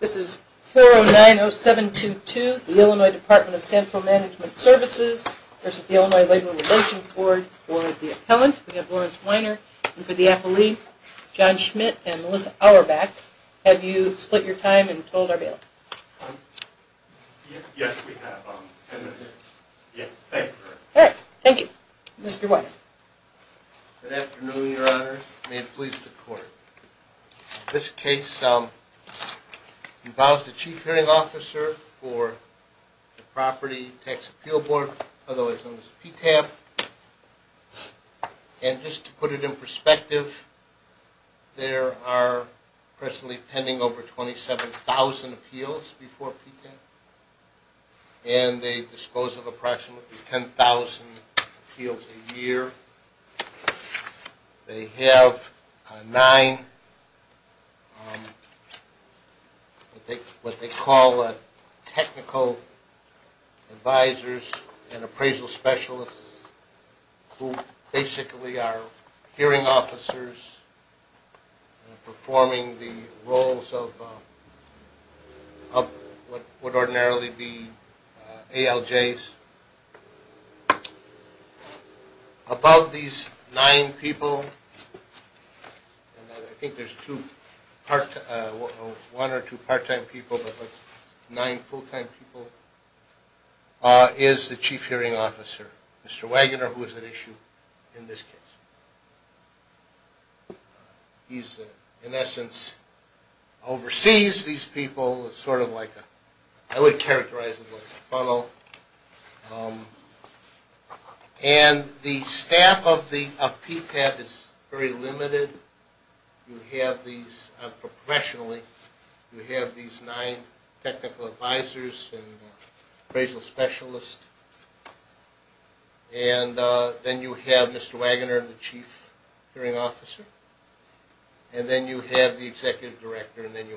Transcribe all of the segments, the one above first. This is 4090722, the Illinois Department of Central Management Services versus the Illinois Labor Relations Board for the appellant. We have Lawrence Weiner and for the appellee, John Schmidt and Melissa Auerbach. Have you split your time and told our bailiff? Yes, we have. Yes, thank you very much. All right, thank you. Mr. Weiner. Good afternoon, your honors. May it please the court. This case involves the Chief Hearing Officer for the Property Tax Appeal Board, otherwise known as PTAP. And just to put it in perspective, there are presently pending over 27,000 appeals before PTAP and they dispose of approximately 10,000 appeals a year. They have nine, what they call technical advisors and appraisal specialists who basically are hearing officers performing the roles of what would ordinarily be ALJs. Above these nine people, I think there's one or two part-time people, but nine full-time people, is the Chief Hearing Officer, Mr. Wagner, who is at issue in this case. He's, in essence, oversees these people, sort of like a, I would characterize it like a funnel. And the staff of PTAP is very limited. You have these, professionally, you have these nine technical advisors and appraisal specialists. And then you have Mr. Wagner, the Chief Hearing Officer. And then you have the Executive Director, and then you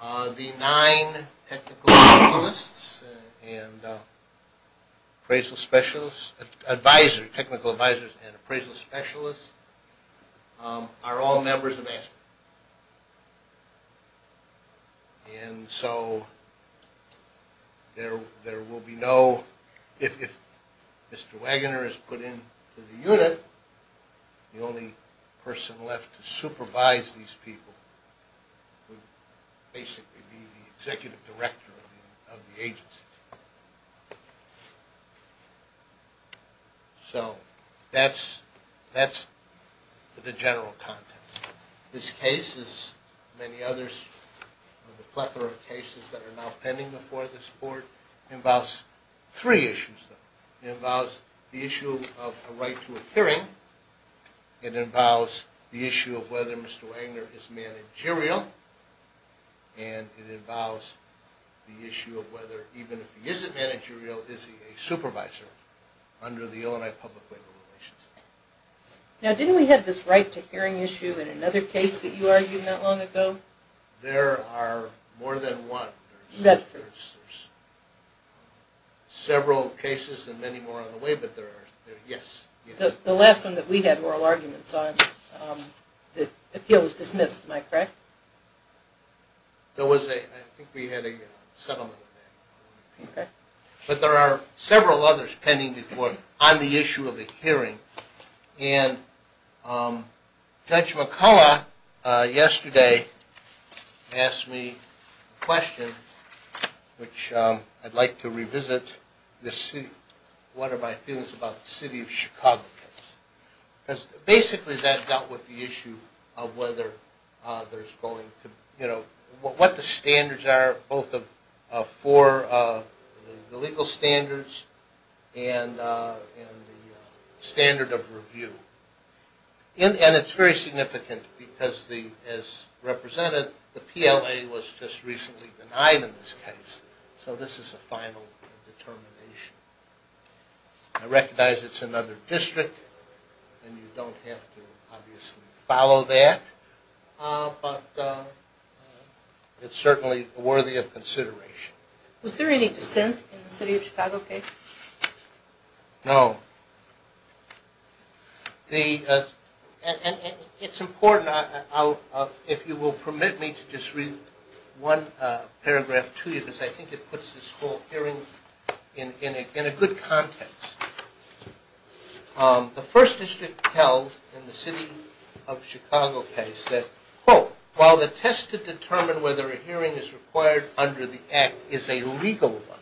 have PTAP. The nine technical advisors and appraisal specialists are all members of ASPR. And so, there will be no, if Mr. Wagner is put into the unit, the only person left to supervise these people would basically be the Executive Director of the agency. So, that's the general context. This case, as many others, the plethora of cases that are now pending before this board, involves three issues. It involves the issue of a right to a hearing. It involves the issue of whether Mr. Wagner is managerial. And it involves the issue of whether, even if he isn't managerial, is he a supervisor under the Illinois Public Labor Relations Act. Now, didn't we have this right to hearing issue in another case that you argued not long ago? There are more than one. Several cases and many more on the way, but there are, yes. The last one that we had oral arguments on, the appeal was dismissed, am I correct? There was a, I think we had a settlement with that. Okay. But there are several others pending before, on the issue of a hearing. And Judge McCullough yesterday asked me a question, which I'd like to revisit. What are my feelings about the City of Chicago case? Because basically that dealt with the issue of whether there's going to, you know, what the standards are, both for the legal standards and the standard of review. And it's very significant because, as represented, the PLA was just recently denied in this case. So this is a final determination. I recognize it's another district, and you don't have to obviously follow that, but it's certainly worthy of consideration. Was there any dissent in the City of Chicago case? No. The, and it's important, if you will permit me to just read one paragraph to you, because I think it puts this whole hearing in a good context. The first district held in the City of Chicago case that, quote, while the test to determine whether a hearing is required under the Act is a legal one,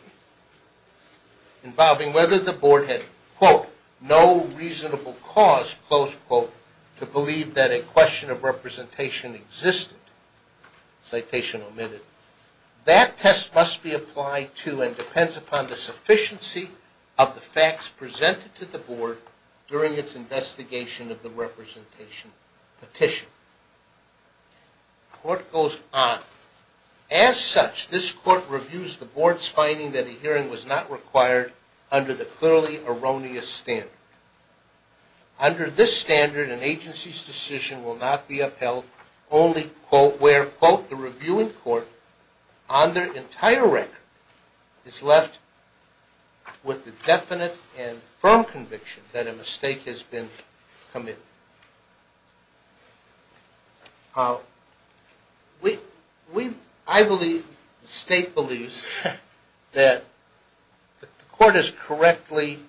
involving whether the board had, quote, no reasonable cause, close quote, to believe that a question of representation existed, citation omitted, that test must be applied to and depends upon the sufficiency of the facts presented to the board during its investigation of the representation petition. The court goes on. As such, this court reviews the board's finding that a hearing was not required under the clearly erroneous standard. Under this standard, an agency's decision will not be upheld, only, quote, where, quote, the reviewing court, on their entire record, is left with the definite and firm conviction that a mistake has been committed. We, I believe, the state believes that the court is correctly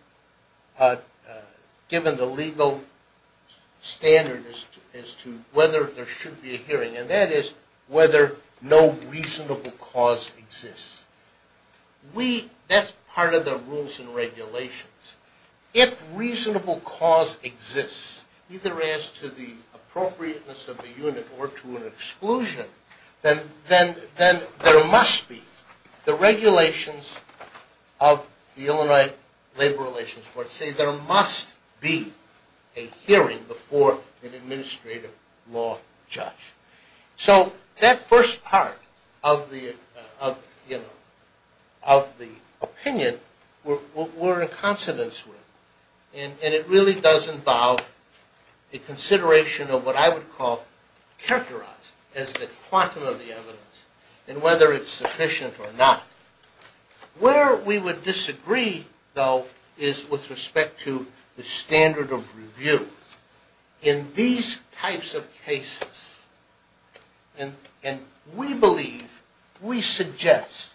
given the legal standard as to whether there should be a hearing, and that is whether no reasonable cause exists. We, that's part of the rules and regulations. If reasonable cause exists, either as to the appropriateness of the unit or to an exclusion, then there must be the regulations of the Illinois Labor Relations Board that say there must be a hearing before an administrative law judge. So that first part of the opinion we're in consonance with, and it really does involve a consideration of what I would call characterized as the quantum of the evidence and whether it's sufficient or not. Where we would disagree, though, is with respect to the standard of review. In these types of cases, and we believe, we suggest,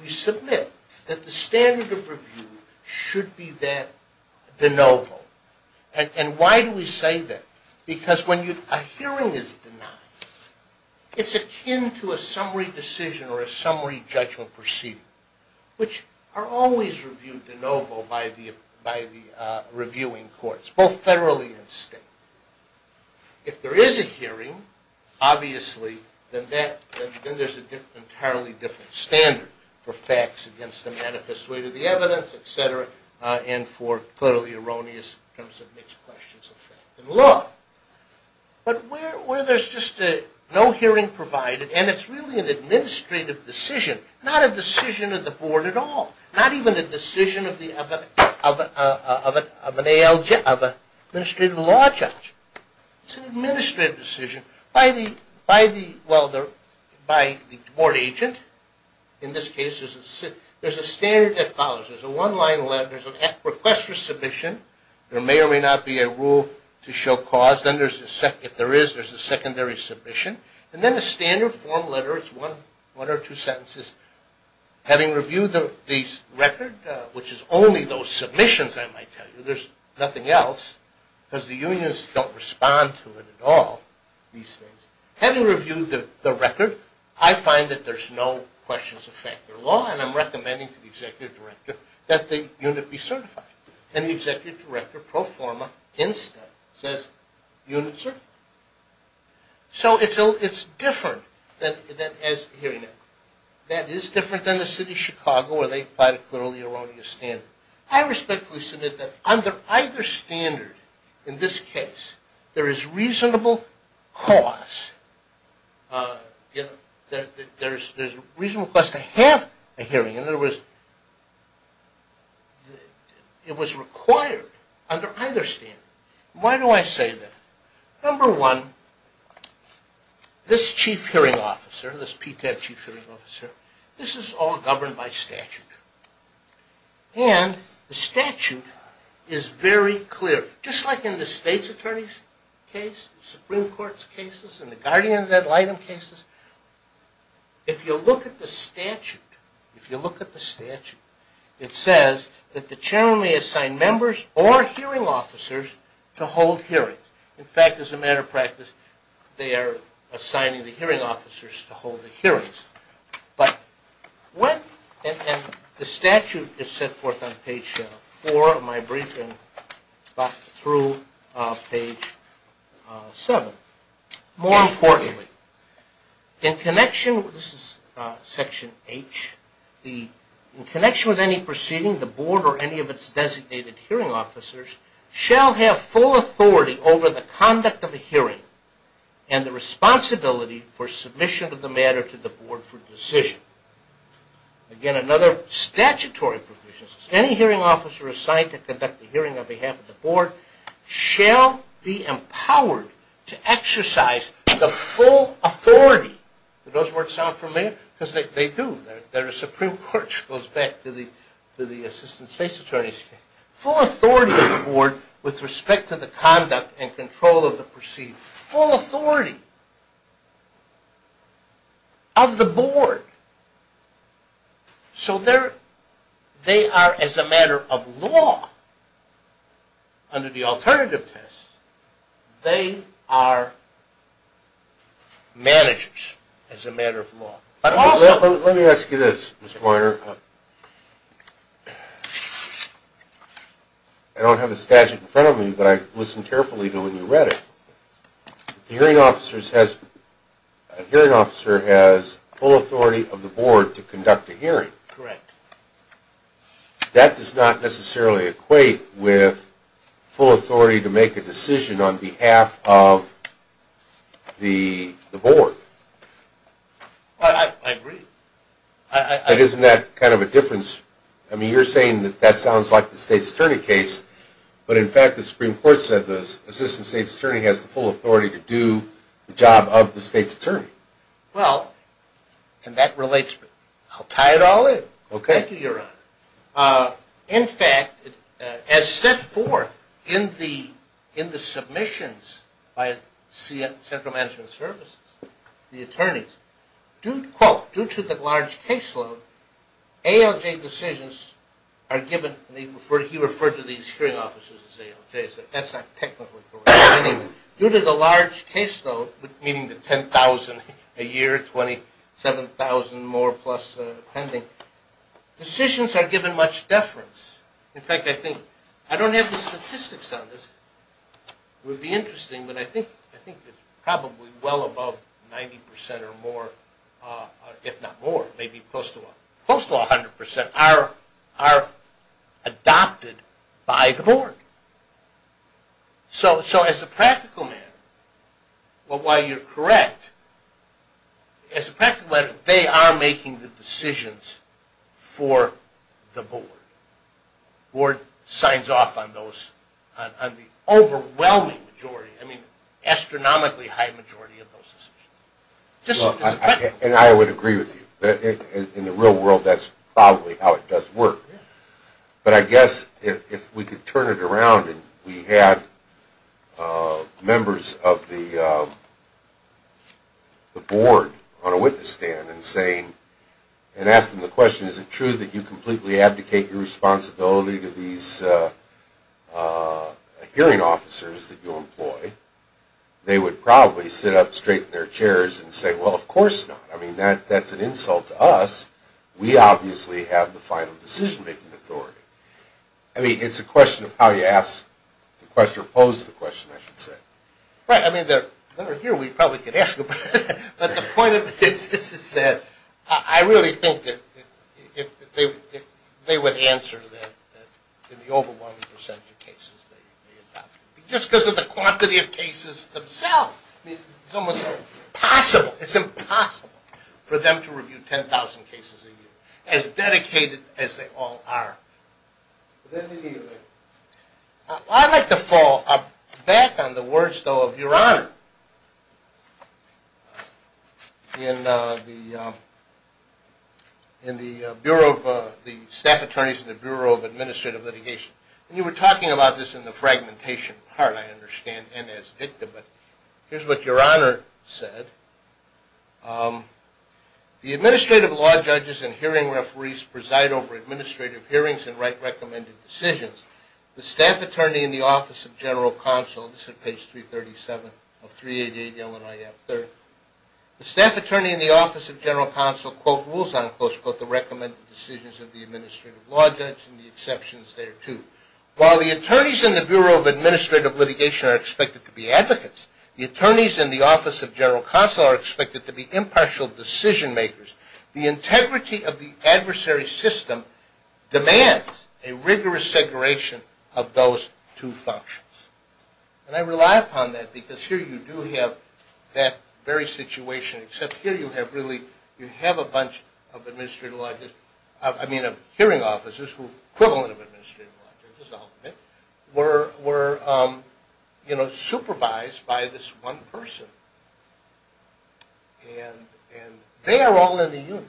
we submit, that the standard of review should be that de novo. And why do we say that? Because when a hearing is denied, it's akin to a summary decision or a summary judgment proceeding, which are always reviewed de novo by the reviewing courts, both federally and state. If there is a hearing, obviously, then there's an entirely different standard for facts against the manifest weight of the evidence, et cetera, and for clearly erroneous terms of mixed questions of fact and law. But where there's just no hearing provided, and it's really an administrative decision, not a decision of the board at all, not even a decision of an administrative law judge. It's an administrative decision by the board agent. In this case, there's a standard that follows. There's a one-line letter. There's a request for submission. There may or may not be a rule to show cause. If there is, there's a secondary submission. And then a standard form letter. It's one or two sentences. Having reviewed the record, which is only those submissions, I might tell you, there's nothing else because the unions don't respond to it at all, these things. Having reviewed the record, I find that there's no questions of fact or law, and I'm recommending to the executive director that the unit be certified. And the executive director pro forma, instead, says unit certified. So it's different than a hearing record. That is different than the city of Chicago where they apply the clearly erroneous standard. I respectfully submit that under either standard in this case, there is reasonable cause. There's reasonable cause to have a hearing. In other words, it was required under either standard. Why do I say that? Number one, this chief hearing officer, this PTAC chief hearing officer, this is all governed by statute. And the statute is very clear. Just like in the state's attorney's case, the Supreme Court's cases, and the guardian's item cases, if you look at the statute, if you look at the statute, it says that the chairman may assign members or hearing officers to hold hearings. In fact, as a matter of practice, they are assigning the hearing officers to hold the hearings. But when the statute is set forth on page four of my briefing, through page seven, more importantly, in connection, this is section H, in connection with any proceeding, the board or any of its designated hearing officers shall have full authority over the conduct of a hearing and the responsibility for submission of the matter to the board for decision. Again, another statutory provision. Any hearing officer assigned to conduct a hearing on behalf of the board shall be empowered to exercise the full authority. Do those words sound familiar? Because they do. Full authority of the board with respect to the conduct and control of the proceeding. Full authority of the board. So they are, as a matter of law, under the alternative test, they are managers, as a matter of law. Let me ask you this, Mr. Weiner. I don't have the statute in front of me, but I listened carefully to when you read it. The hearing officer has full authority of the board to conduct a hearing. Correct. That does not necessarily equate with full authority to make a decision on behalf of the board. I agree. But isn't that kind of a difference? I mean, you're saying that that sounds like the State's Attorney case, but in fact the Supreme Court said this, Assistant State's Attorney has the full authority to do the job of the State's Attorney. Well, and that relates, I'll tie it all in. Okay. Thank you, Your Honor. In fact, as set forth in the submissions by Central Management Services, the attorneys, quote, due to the large caseload, ALJ decisions are given, he referred to these hearing officers as ALJs, that's not technically correct. Due to the large caseload, meaning the 10,000 a year, 27,000 more plus pending, decisions are given much deference. In fact, I think, I don't have the statistics on this. It would be interesting, but I think it's probably well above 90 percent or more, if not more, maybe close to 100 percent, are adopted by the board. So as a practical matter, while you're correct, as a practical matter, they are making the decisions for the board. The board signs off on the overwhelming majority, I mean astronomically high majority of those decisions. And I would agree with you. In the real world, that's probably how it does work. But I guess if we could turn it around and we had members of the board on a witness stand and say, and ask them the question, is it true that you completely abdicate your responsibility to these hearing officers that you employ, they would probably sit up straight in their chairs and say, well, of course not. I mean, that's an insult to us. We obviously have the final decision-making authority. I mean, it's a question of how you ask the question or pose the question, I should say. Right. I mean, they're here. We probably could ask them. But the point of this is that I really think that they would answer that in the overwhelming percentage of cases they adopted. Just because of the quantity of cases themselves. It's almost impossible. It's impossible for them to review 10,000 cases a year. As dedicated as they all are. I'd like to fall back on the words, though, of your Honor. In the Bureau of, the Staff Attorneys in the Bureau of Administrative Litigation. And you were talking about this in the fragmentation part, I understand, and as Victor. But here's what your Honor said. The Administrative Law Judges and Hearing Referees preside over administrative hearings and write recommended decisions. The Staff Attorney in the Office of General Counsel, this is page 337 of 388 LNIF 3rd. The Staff Attorney in the Office of General Counsel, quote, rules on, close quote, the recommended decisions of the Administrative Law Judge and the exceptions thereto. While the attorneys in the Bureau of Administrative Litigation are expected to be advocates, the attorneys in the Office of General Counsel are expected to be impartial decision makers. The integrity of the adversary system demands a rigorous separation of those two functions. And I rely upon that because here you do have that very situation, except here you have really, you have a bunch of Administrative Law, I mean of hearing officers who are equivalent of Administrative Law Judges ultimately, were, you know, supervised by this one person. And they are all in the unit.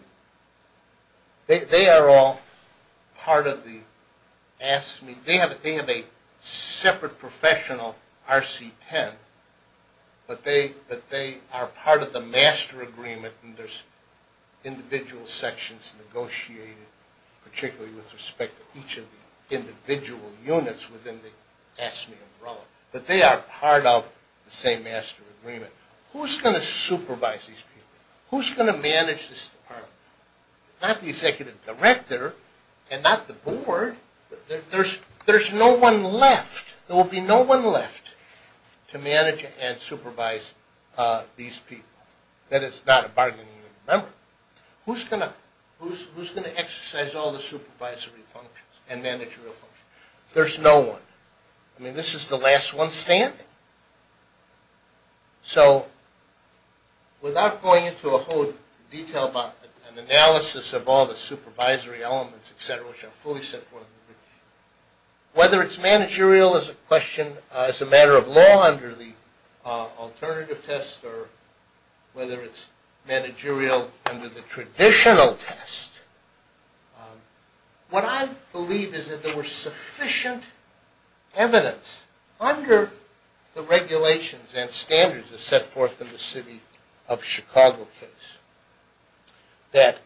They are all part of the, they have a separate professional RC-10, but they are part of the master agreement and there's individual sections negotiated, particularly with respect to each of the individual units within the AFSCME umbrella. But they are part of the same master agreement. Who's going to supervise these people? Who's going to manage this department? Not the Executive Director and not the Board. There's no one left. There will be no one left to manage and supervise these people. That is not a bargaining unit member. Who's going to exercise all the supervisory functions and managerial functions? There's no one. I mean this is the last one standing. So without going into a whole detail about an analysis of all the supervisory elements, et cetera, which are fully set forth, whether it's managerial as a matter of law under the alternative test or whether it's managerial under the traditional test, what I believe is that there was sufficient evidence under the regulations and standards that are set forth in the City of Chicago case that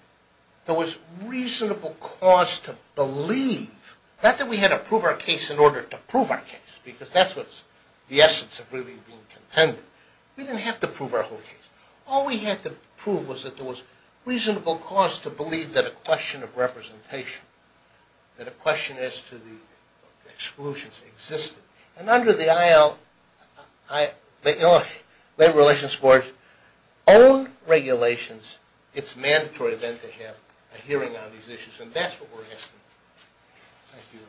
there was reasonable cause to believe, not that we had to prove our case in order to prove our case because that's what's the essence of really being contended. We didn't have to prove our whole case. All we had to prove was that there was reasonable cause to believe that a question of representation, that a question as to the exclusions existed. And under the IL, Labor Relations Board's own regulations, it's mandatory then to have a hearing on these issues. And that's what we're asking. Thank you.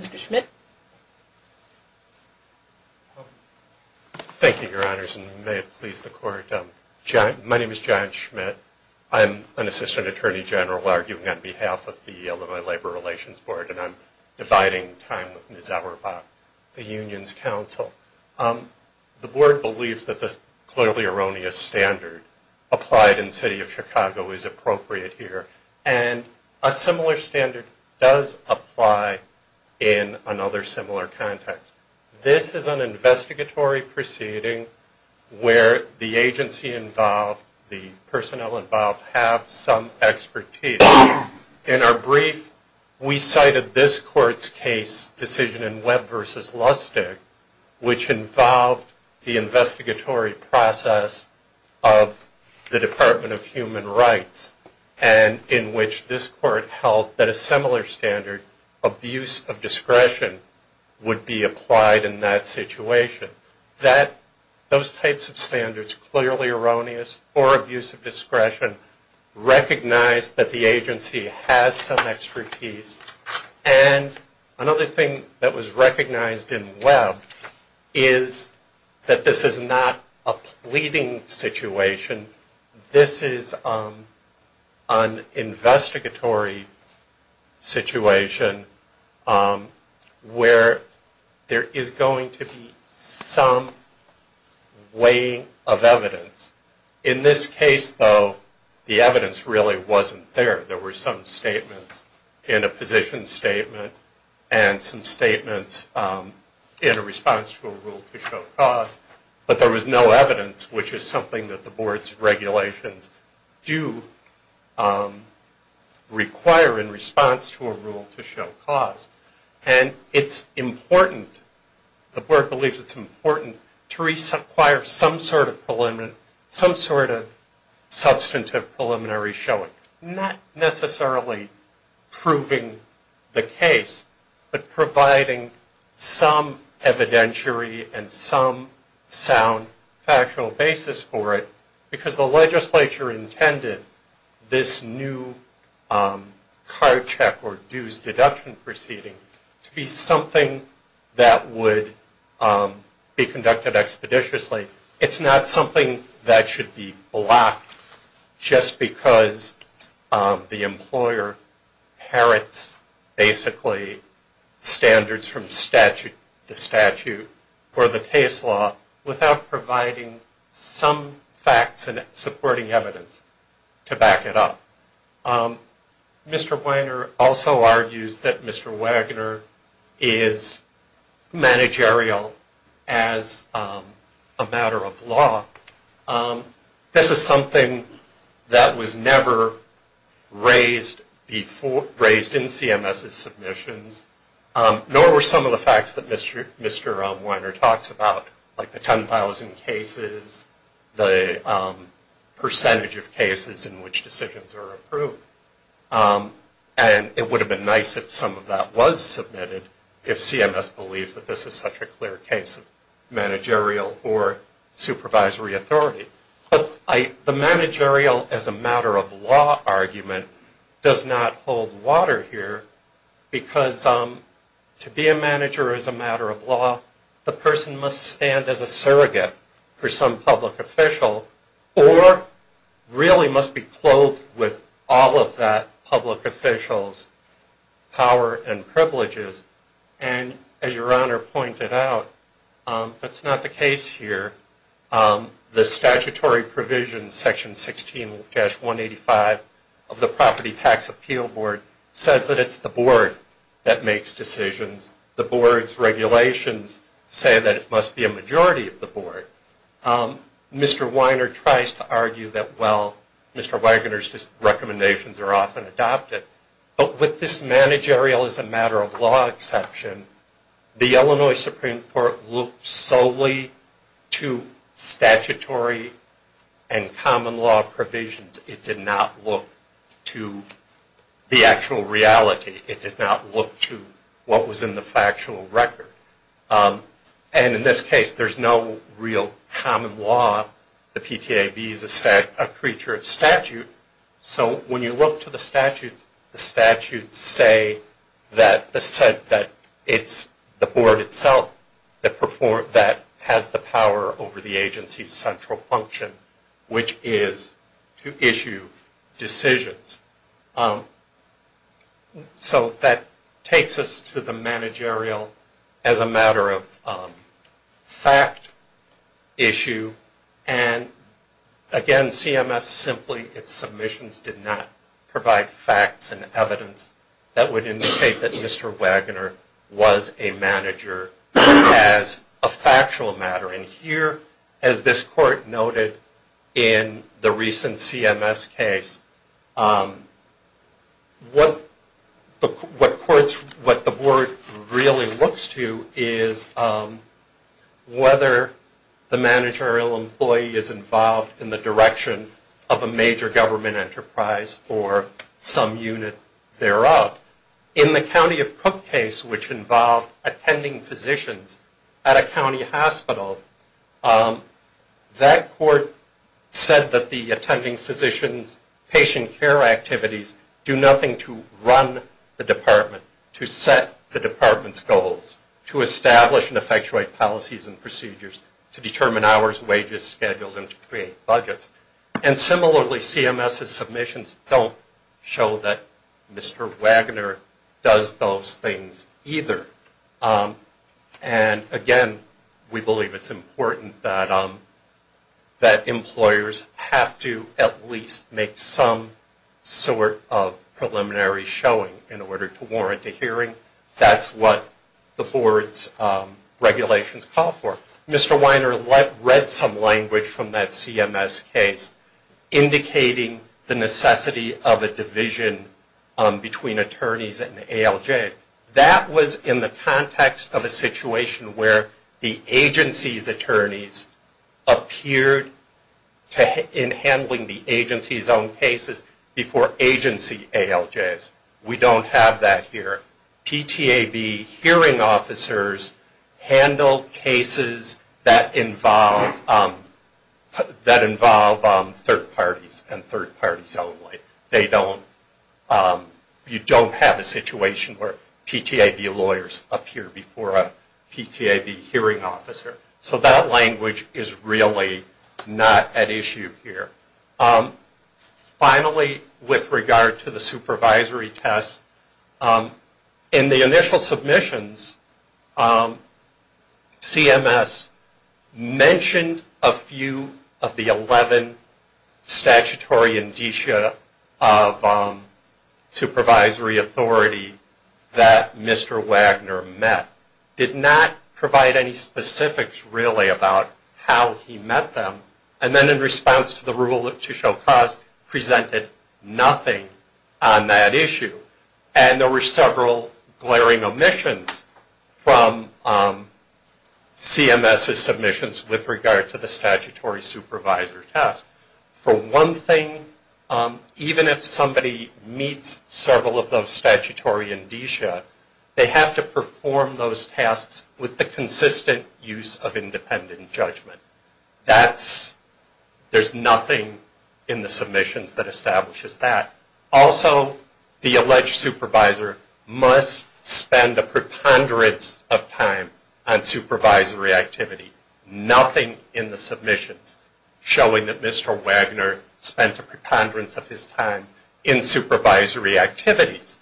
Mr. Schmidt? Thank you, Your Honors, and may it please the Court. My name is John Schmidt. I'm an Assistant Attorney General arguing on behalf of the Illinois Labor Relations Board, and I'm dividing time with Ms. Auerbach, the Union's counsel. The Board believes that this clearly erroneous standard applied in the City of Chicago is appropriate here. And a similar standard does apply in another similar context. This is an investigatory proceeding where the agency involved, the personnel involved, have some expertise. In our brief, we cited this Court's case decision in Webb v. Lustig, which involved the investigatory process of the Department of Human Rights. And in which this Court held that a similar standard, abuse of discretion, would be applied in that situation. Those types of standards, clearly erroneous or abuse of discretion, recognize that the agency has some expertise. And another thing that was recognized in Webb is that this is not a pleading situation. This is an investigatory situation where there is going to be some weighing of evidence. In this case, though, the evidence really wasn't there. There were some statements in a position statement and some statements in a response to a rule to show cause. But there was no evidence, which is something that the Board's regulations do require in response to a rule to show cause. And it's important, the Board believes it's important, to reacquire some sort of preliminary, some sort of substantive preliminary showing. Not necessarily proving the case, but providing some evidentiary and some sound factual basis for it. Because the legislature intended this new card check or dues deduction proceeding to be something that would be conducted expeditiously. It's not something that should be blocked just because the employer inherits, basically, standards from statute to statute for the case law without providing some facts and supporting evidence to back it up. Mr. Weiner also argues that Mr. Wagner is managerial as a matter of law. This is something that was never raised in CMS's submissions, nor were some of the facts that Mr. Weiner talks about like the 10,000 cases, the percentage of cases in which decisions are approved. And it would have been nice if some of that was submitted if CMS believed that this is such a clear case of managerial or supervisory authority. But the managerial as a matter of law argument does not hold water here because to be a manager as a matter of law, the person must stand as a surrogate for some public official or really must be clothed with all of that public official's power and privileges. And as Your Honor pointed out, that's not the case here. The statutory provision, Section 16-185 of the Property Tax Appeal Board says that it's the board that makes decisions. The board's regulations say that it must be a majority of the board. Mr. Weiner tries to argue that, well, Mr. Wagner's recommendations are often adopted. But with this managerial as a matter of law exception, the Illinois Supreme Court looked solely to statutory and common law provisions. It did not look to the actual reality. It did not look to what was in the factual record. And in this case, there's no real common law. The PTAB is a creature of statute. So when you look to the statutes, the statutes say that it's the board itself that has the power over the agency's central function, which is to issue decisions. So that takes us to the managerial as a matter of fact issue. And again, CMS simply, its submissions did not provide facts and evidence that would indicate that Mr. Wagner was a manager as a factual matter. And here, as this court noted in the recent CMS case, what the board really looks to is whether the managerial employee is involved in the direction of a major government enterprise or some unit thereof. In the County of Cook case, which involved attending physicians at a county hospital, that court said that the attending physicians' patient care activities do nothing to run the department, to set the department's goals, to establish and effectuate policies and procedures, to determine hours, wages, schedules, and to create budgets. And similarly, CMS's submissions don't show that Mr. Wagner does those things either. And again, we believe it's important that employers have to at least make some sort of preliminary showing in order to warrant a hearing. That's what the board's regulations call for. Mr. Wagner read some language from that CMS case indicating the necessity of a division between attorneys and ALJs. That was in the context of a situation where the agency's attorneys appeared in handling the agency's own cases before agency ALJs. We don't have that here. PTAB hearing officers handled cases that involve third parties and third parties only. You don't have a situation where PTAB lawyers appear before a PTAB hearing officer. So that language is really not at issue here. Finally, with regard to the supervisory test, in the initial submissions, CMS mentioned a few of the 11 statutory indicia of supervisory authority that Mr. Wagner met, did not provide any specifics really about how he met them. And then in response to the rule to show cause, presented nothing on that issue. And there were several glaring omissions from CMS's submissions with regard to the statutory supervisor test. For one thing, even if somebody meets several of those statutory indicia, they have to perform those tasks with the consistent use of independent judgment. There's nothing in the submissions that establishes that. Also, the alleged supervisor must spend a preponderance of time on supervisory activity. Nothing in the submissions showing that Mr. Wagner spent a preponderance of his time in supervisory activities.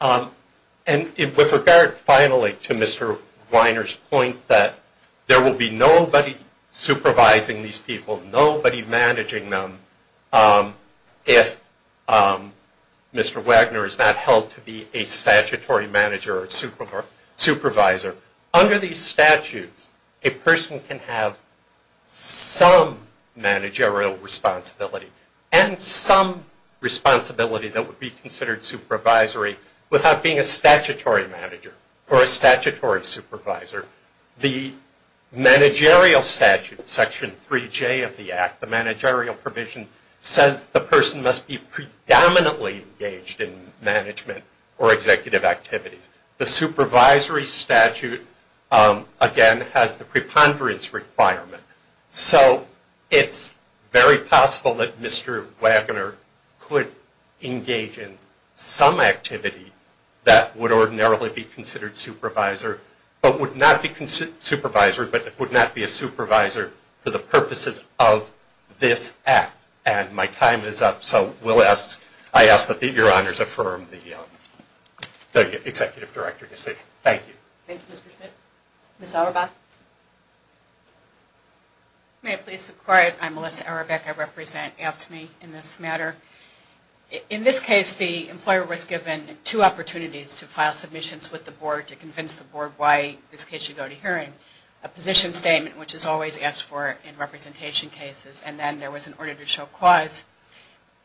And with regard, finally, to Mr. Weiner's point that there will be nobody supervising these people, nobody managing them, if Mr. Wagner is not held to be a statutory manager or supervisor. Under these statutes, a person can have some managerial responsibility and some responsibility that would be considered supervisory without being a statutory manager or a statutory supervisor. The managerial statute, Section 3J of the Act, the managerial provision, says the person must be predominantly engaged in management or executive activities. The supervisory statute, again, has the preponderance requirement. So it's very possible that Mr. Wagner could engage in some activity that would ordinarily be considered supervisor, but would not be a supervisor for the purposes of this Act. And my time is up, so I ask that your honors affirm the executive director decision. Thank you. Thank you, Mr. Schmidt. Ms. Auerbach? May it please the Court, I'm Melissa Auerbach. I represent AFSCME in this matter. In this case, the employer was given two opportunities to file submissions with the Board to convince the Board why in this case you go to hearing. A position statement, which is always asked for in representation cases, and then there was an order to show clause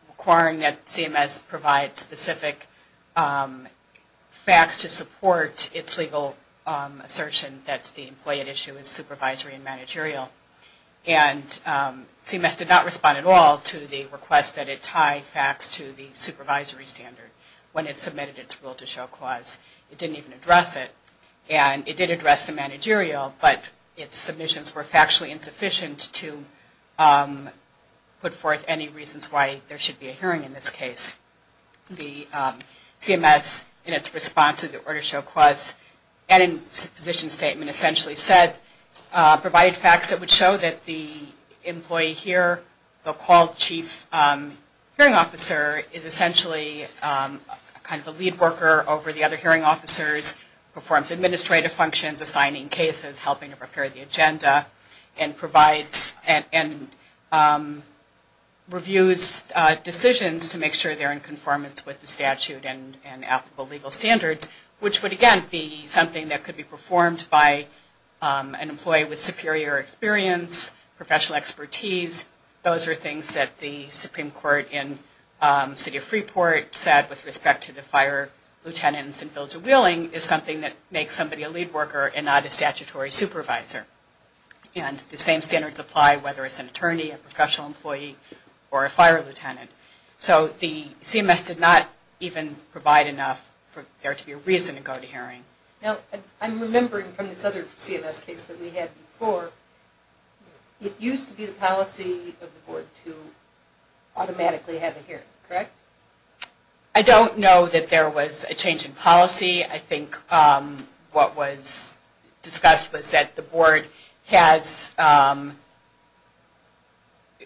requiring that CMS provide specific facts to support its legal assertion that the employee at issue is supervisory and managerial. And CMS did not respond at all to the request that it tie facts to the supervisory standard when it submitted its rule to show clause. It didn't even address it. And it did address the managerial, but its submissions were factually insufficient to put forth any reasons why there should be a hearing in this case. The CMS, in its response to the order to show clause, and its position statement essentially said, provide facts that would show that the employee here, the qual chief hearing officer, is essentially kind of a lead worker over the other hearing officers, performs administrative functions, assigning cases, helping to prepare the agenda, and provides and reviews decisions to make sure they're in conformance with the statute and applicable legal standards, which would again be something that could be performed by an employee with superior experience, professional expertise. Those are things that the Supreme Court in the city of Freeport said with respect to the fire lieutenants and village of Wheeling is something that makes somebody a lead worker and not a statutory supervisor. And the same standards apply whether it's an attorney, a professional employee, or a fire lieutenant. So the CMS did not even provide enough for there to be a reason to go to hearing. Now, I'm remembering from this other CMS case that we had before, it used to be the policy of the board to automatically have a hearing, correct? I don't know that there was a change in policy. I think what was discussed was that the board has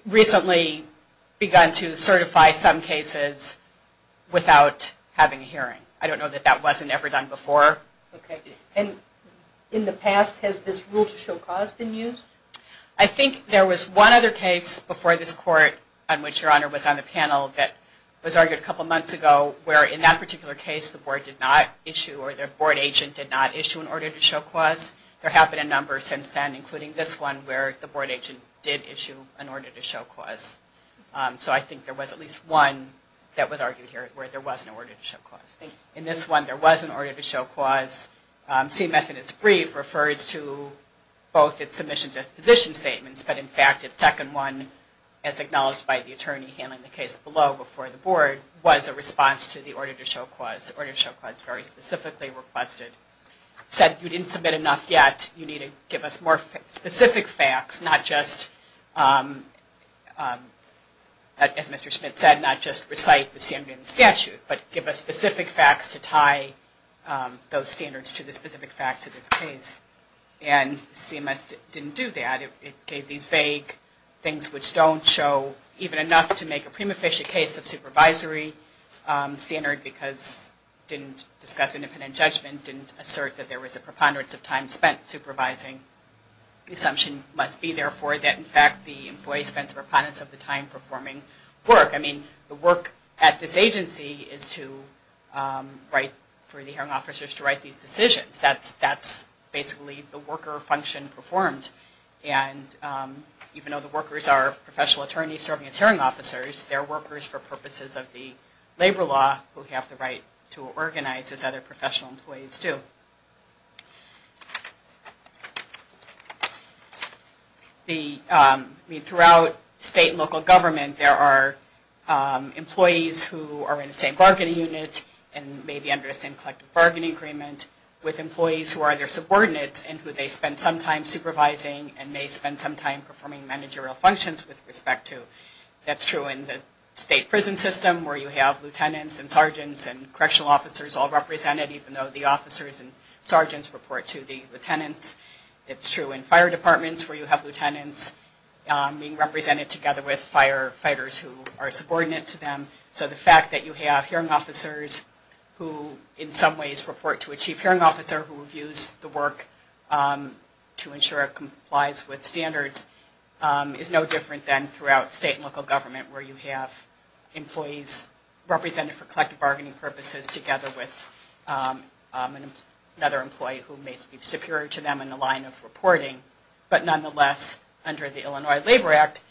recently begun to certify some cases without having a hearing. I don't know that that wasn't ever done before. Okay. And in the past, has this rule to show cause been used? I think there was one other case before this court on which Your Honor was on the panel that was argued a couple months ago where in that particular case, the board did not issue or the board agent did not issue an order to show cause. There have been a number since then, including this one, where the board agent did issue an order to show cause. So I think there was at least one that was argued here where there was an order to show cause. Thank you. In this one, there was an order to show cause. CMS in its brief refers to both its submissions as position statements, but in fact, its second one, as acknowledged by the attorney handling the case below before the board, was a response to the order to show cause. The order to show cause very specifically requested, said you didn't submit enough yet. You need to give us more specific facts, not just, as Mr. Schmidt said, not just recite the standard in the statute, but give us specific facts to tie those standards to the specific facts of this case. And CMS didn't do that. It gave these vague things which don't show even enough to make a prima facie case of supervisory standard because didn't discuss independent judgment, didn't assert that there was a preponderance of time spent supervising. The assumption must be, therefore, that in fact the employee spends a preponderance of the time performing work. I mean, the work at this agency is to write, for the hearing officers to write these decisions. That's basically the worker function performed. And even though the workers are professional attorneys serving as hearing officers, they're workers for purposes of the labor law who have the right to organize as other professional employees do. I mean, throughout state and local government, there are employees who are in the same bargaining unit and may be under the same collective bargaining agreement with employees who are their subordinates and who they spend some time supervising and may spend some time performing managerial functions with respect to. That's true in the state prison system where you have lieutenants and sergeants and correctional officers all represented even though the officers and sergeants report to the lieutenants. It's true in fire departments where you have lieutenants being represented together with firefighters who are subordinate to them. So the fact that you have hearing officers who in some ways report to a chief hearing officer who reviews the work to ensure it complies with standards is no different than throughout state and local government where you have employees represented for collective bargaining purposes together with another employee who may be superior to them in the line of reporting. But nonetheless, under the Illinois Labor Act,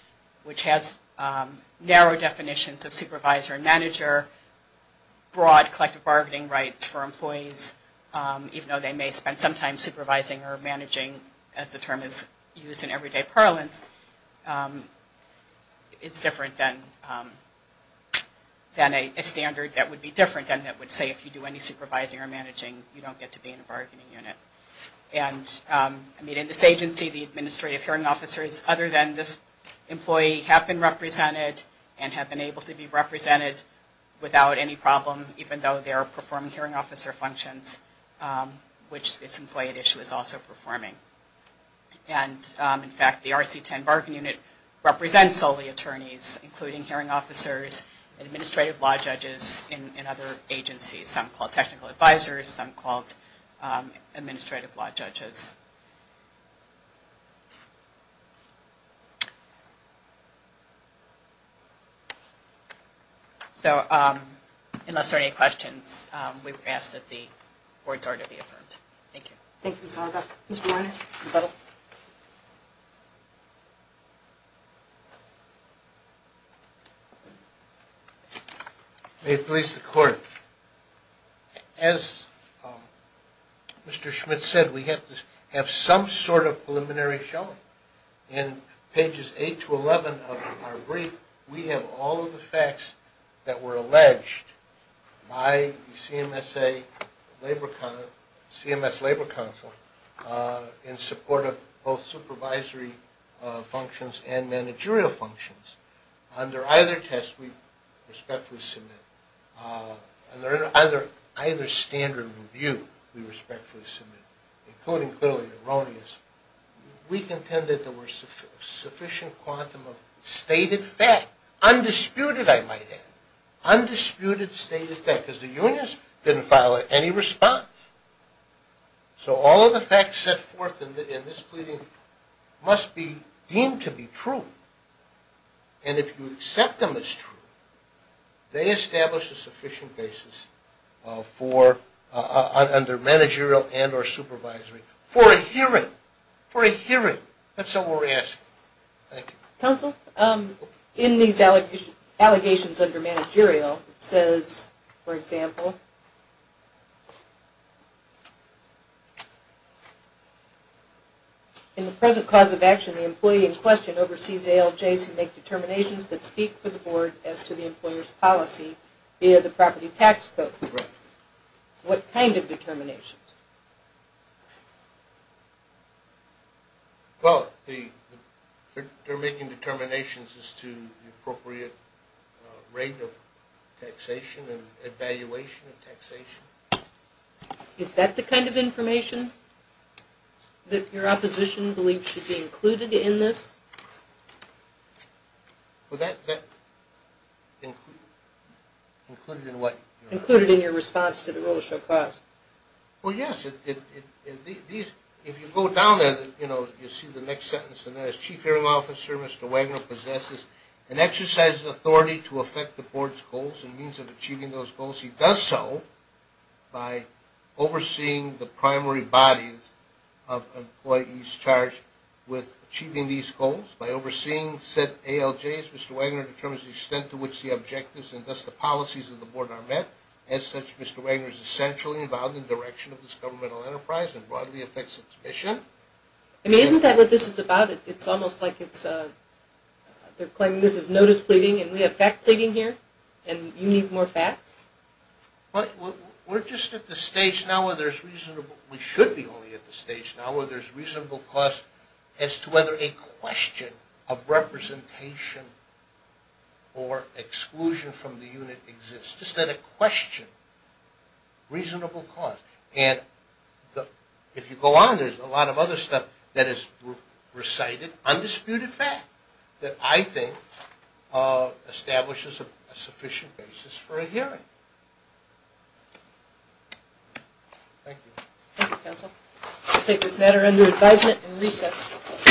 which has narrow definitions of supervisor and manager, broad collective bargaining rights for employees, even though they may spend some time supervising or managing, as the term is used in everyday parlance, it's different than a standard that would be different and that would say if you do any supervising or managing, you don't get to be in a bargaining unit. And I mean, in this agency, the administrative hearing officers, other than this employee, have been represented and have been able to be represented without any problem, even though they are performing hearing officer functions, which this employee at issue is also performing. And in fact, the RC-10 bargaining unit represents solely attorneys, including hearing officers, and administrative law judges in other agencies, some called technical advisors, some called administrative law judges. So, unless there are any questions, we would ask that the board's order be affirmed. Thank you. Thank you, Ms. Horgaff. Mr. Weiner? May it please the Court, as Mr. Schmidt said, we have some sort of preliminary showing. In pages 8 to 11 of our brief, we have all of the facts that were alleged by the CMS Labor Council in support of both supervisory functions and managerial functions. Under either test, we respectfully submit. Under either standard review, we respectfully submit, including clearly erroneous. We contend that there were sufficient quantum of stated fact. Undisputed, I might add. Undisputed stated fact. Because the unions didn't file any response. So all of the facts set forth in this pleading must be deemed to be true. And if you accept them as true, they establish a sufficient basis under managerial and or supervisory for a hearing. For a hearing. That's what we're asking. Thank you. Counsel, in these allegations under managerial, it says, for example, In the present cause of action, the employee in question oversees ALJs who make determinations that speak for the Board as to the employer's policy via the property tax code. What kind of determinations? Well, they're making determinations as to the appropriate rate of taxation and evaluation of taxation. Is that the kind of information that your opposition believes should be included in this? Well, that's included in what? Included in your response to the rule of show cause. Well, yes. If you go down there, you know, you'll see the next sentence. And that is, Chief Hearing Officer Mr. Wagner possesses an exercise of authority to affect the Board's goals and means of achieving those goals. He does so by overseeing the primary bodies of employees charged with achieving these goals. By overseeing said ALJs, Mr. Wagner determines the extent to which the objectives and thus the policies of the Board are met. As such, Mr. Wagner is essentially involved in the direction of this governmental enterprise and broadly affects its mission. I mean, isn't that what this is about? It's almost like it's, they're claiming this is notice pleading and we have fact pleading here? And you need more facts? Well, we're just at the stage now where there's reasonable, we should be only at the stage now where there's reasonable cause as to whether a question of representation or exclusion from the unit exists. Just that a question, reasonable cause. And if you go on, there's a lot of other stuff that is recited, undisputed fact, that I think establishes a sufficient basis for a hearing. Thank you. Thank you, counsel. We'll take this matter under advisement and recess.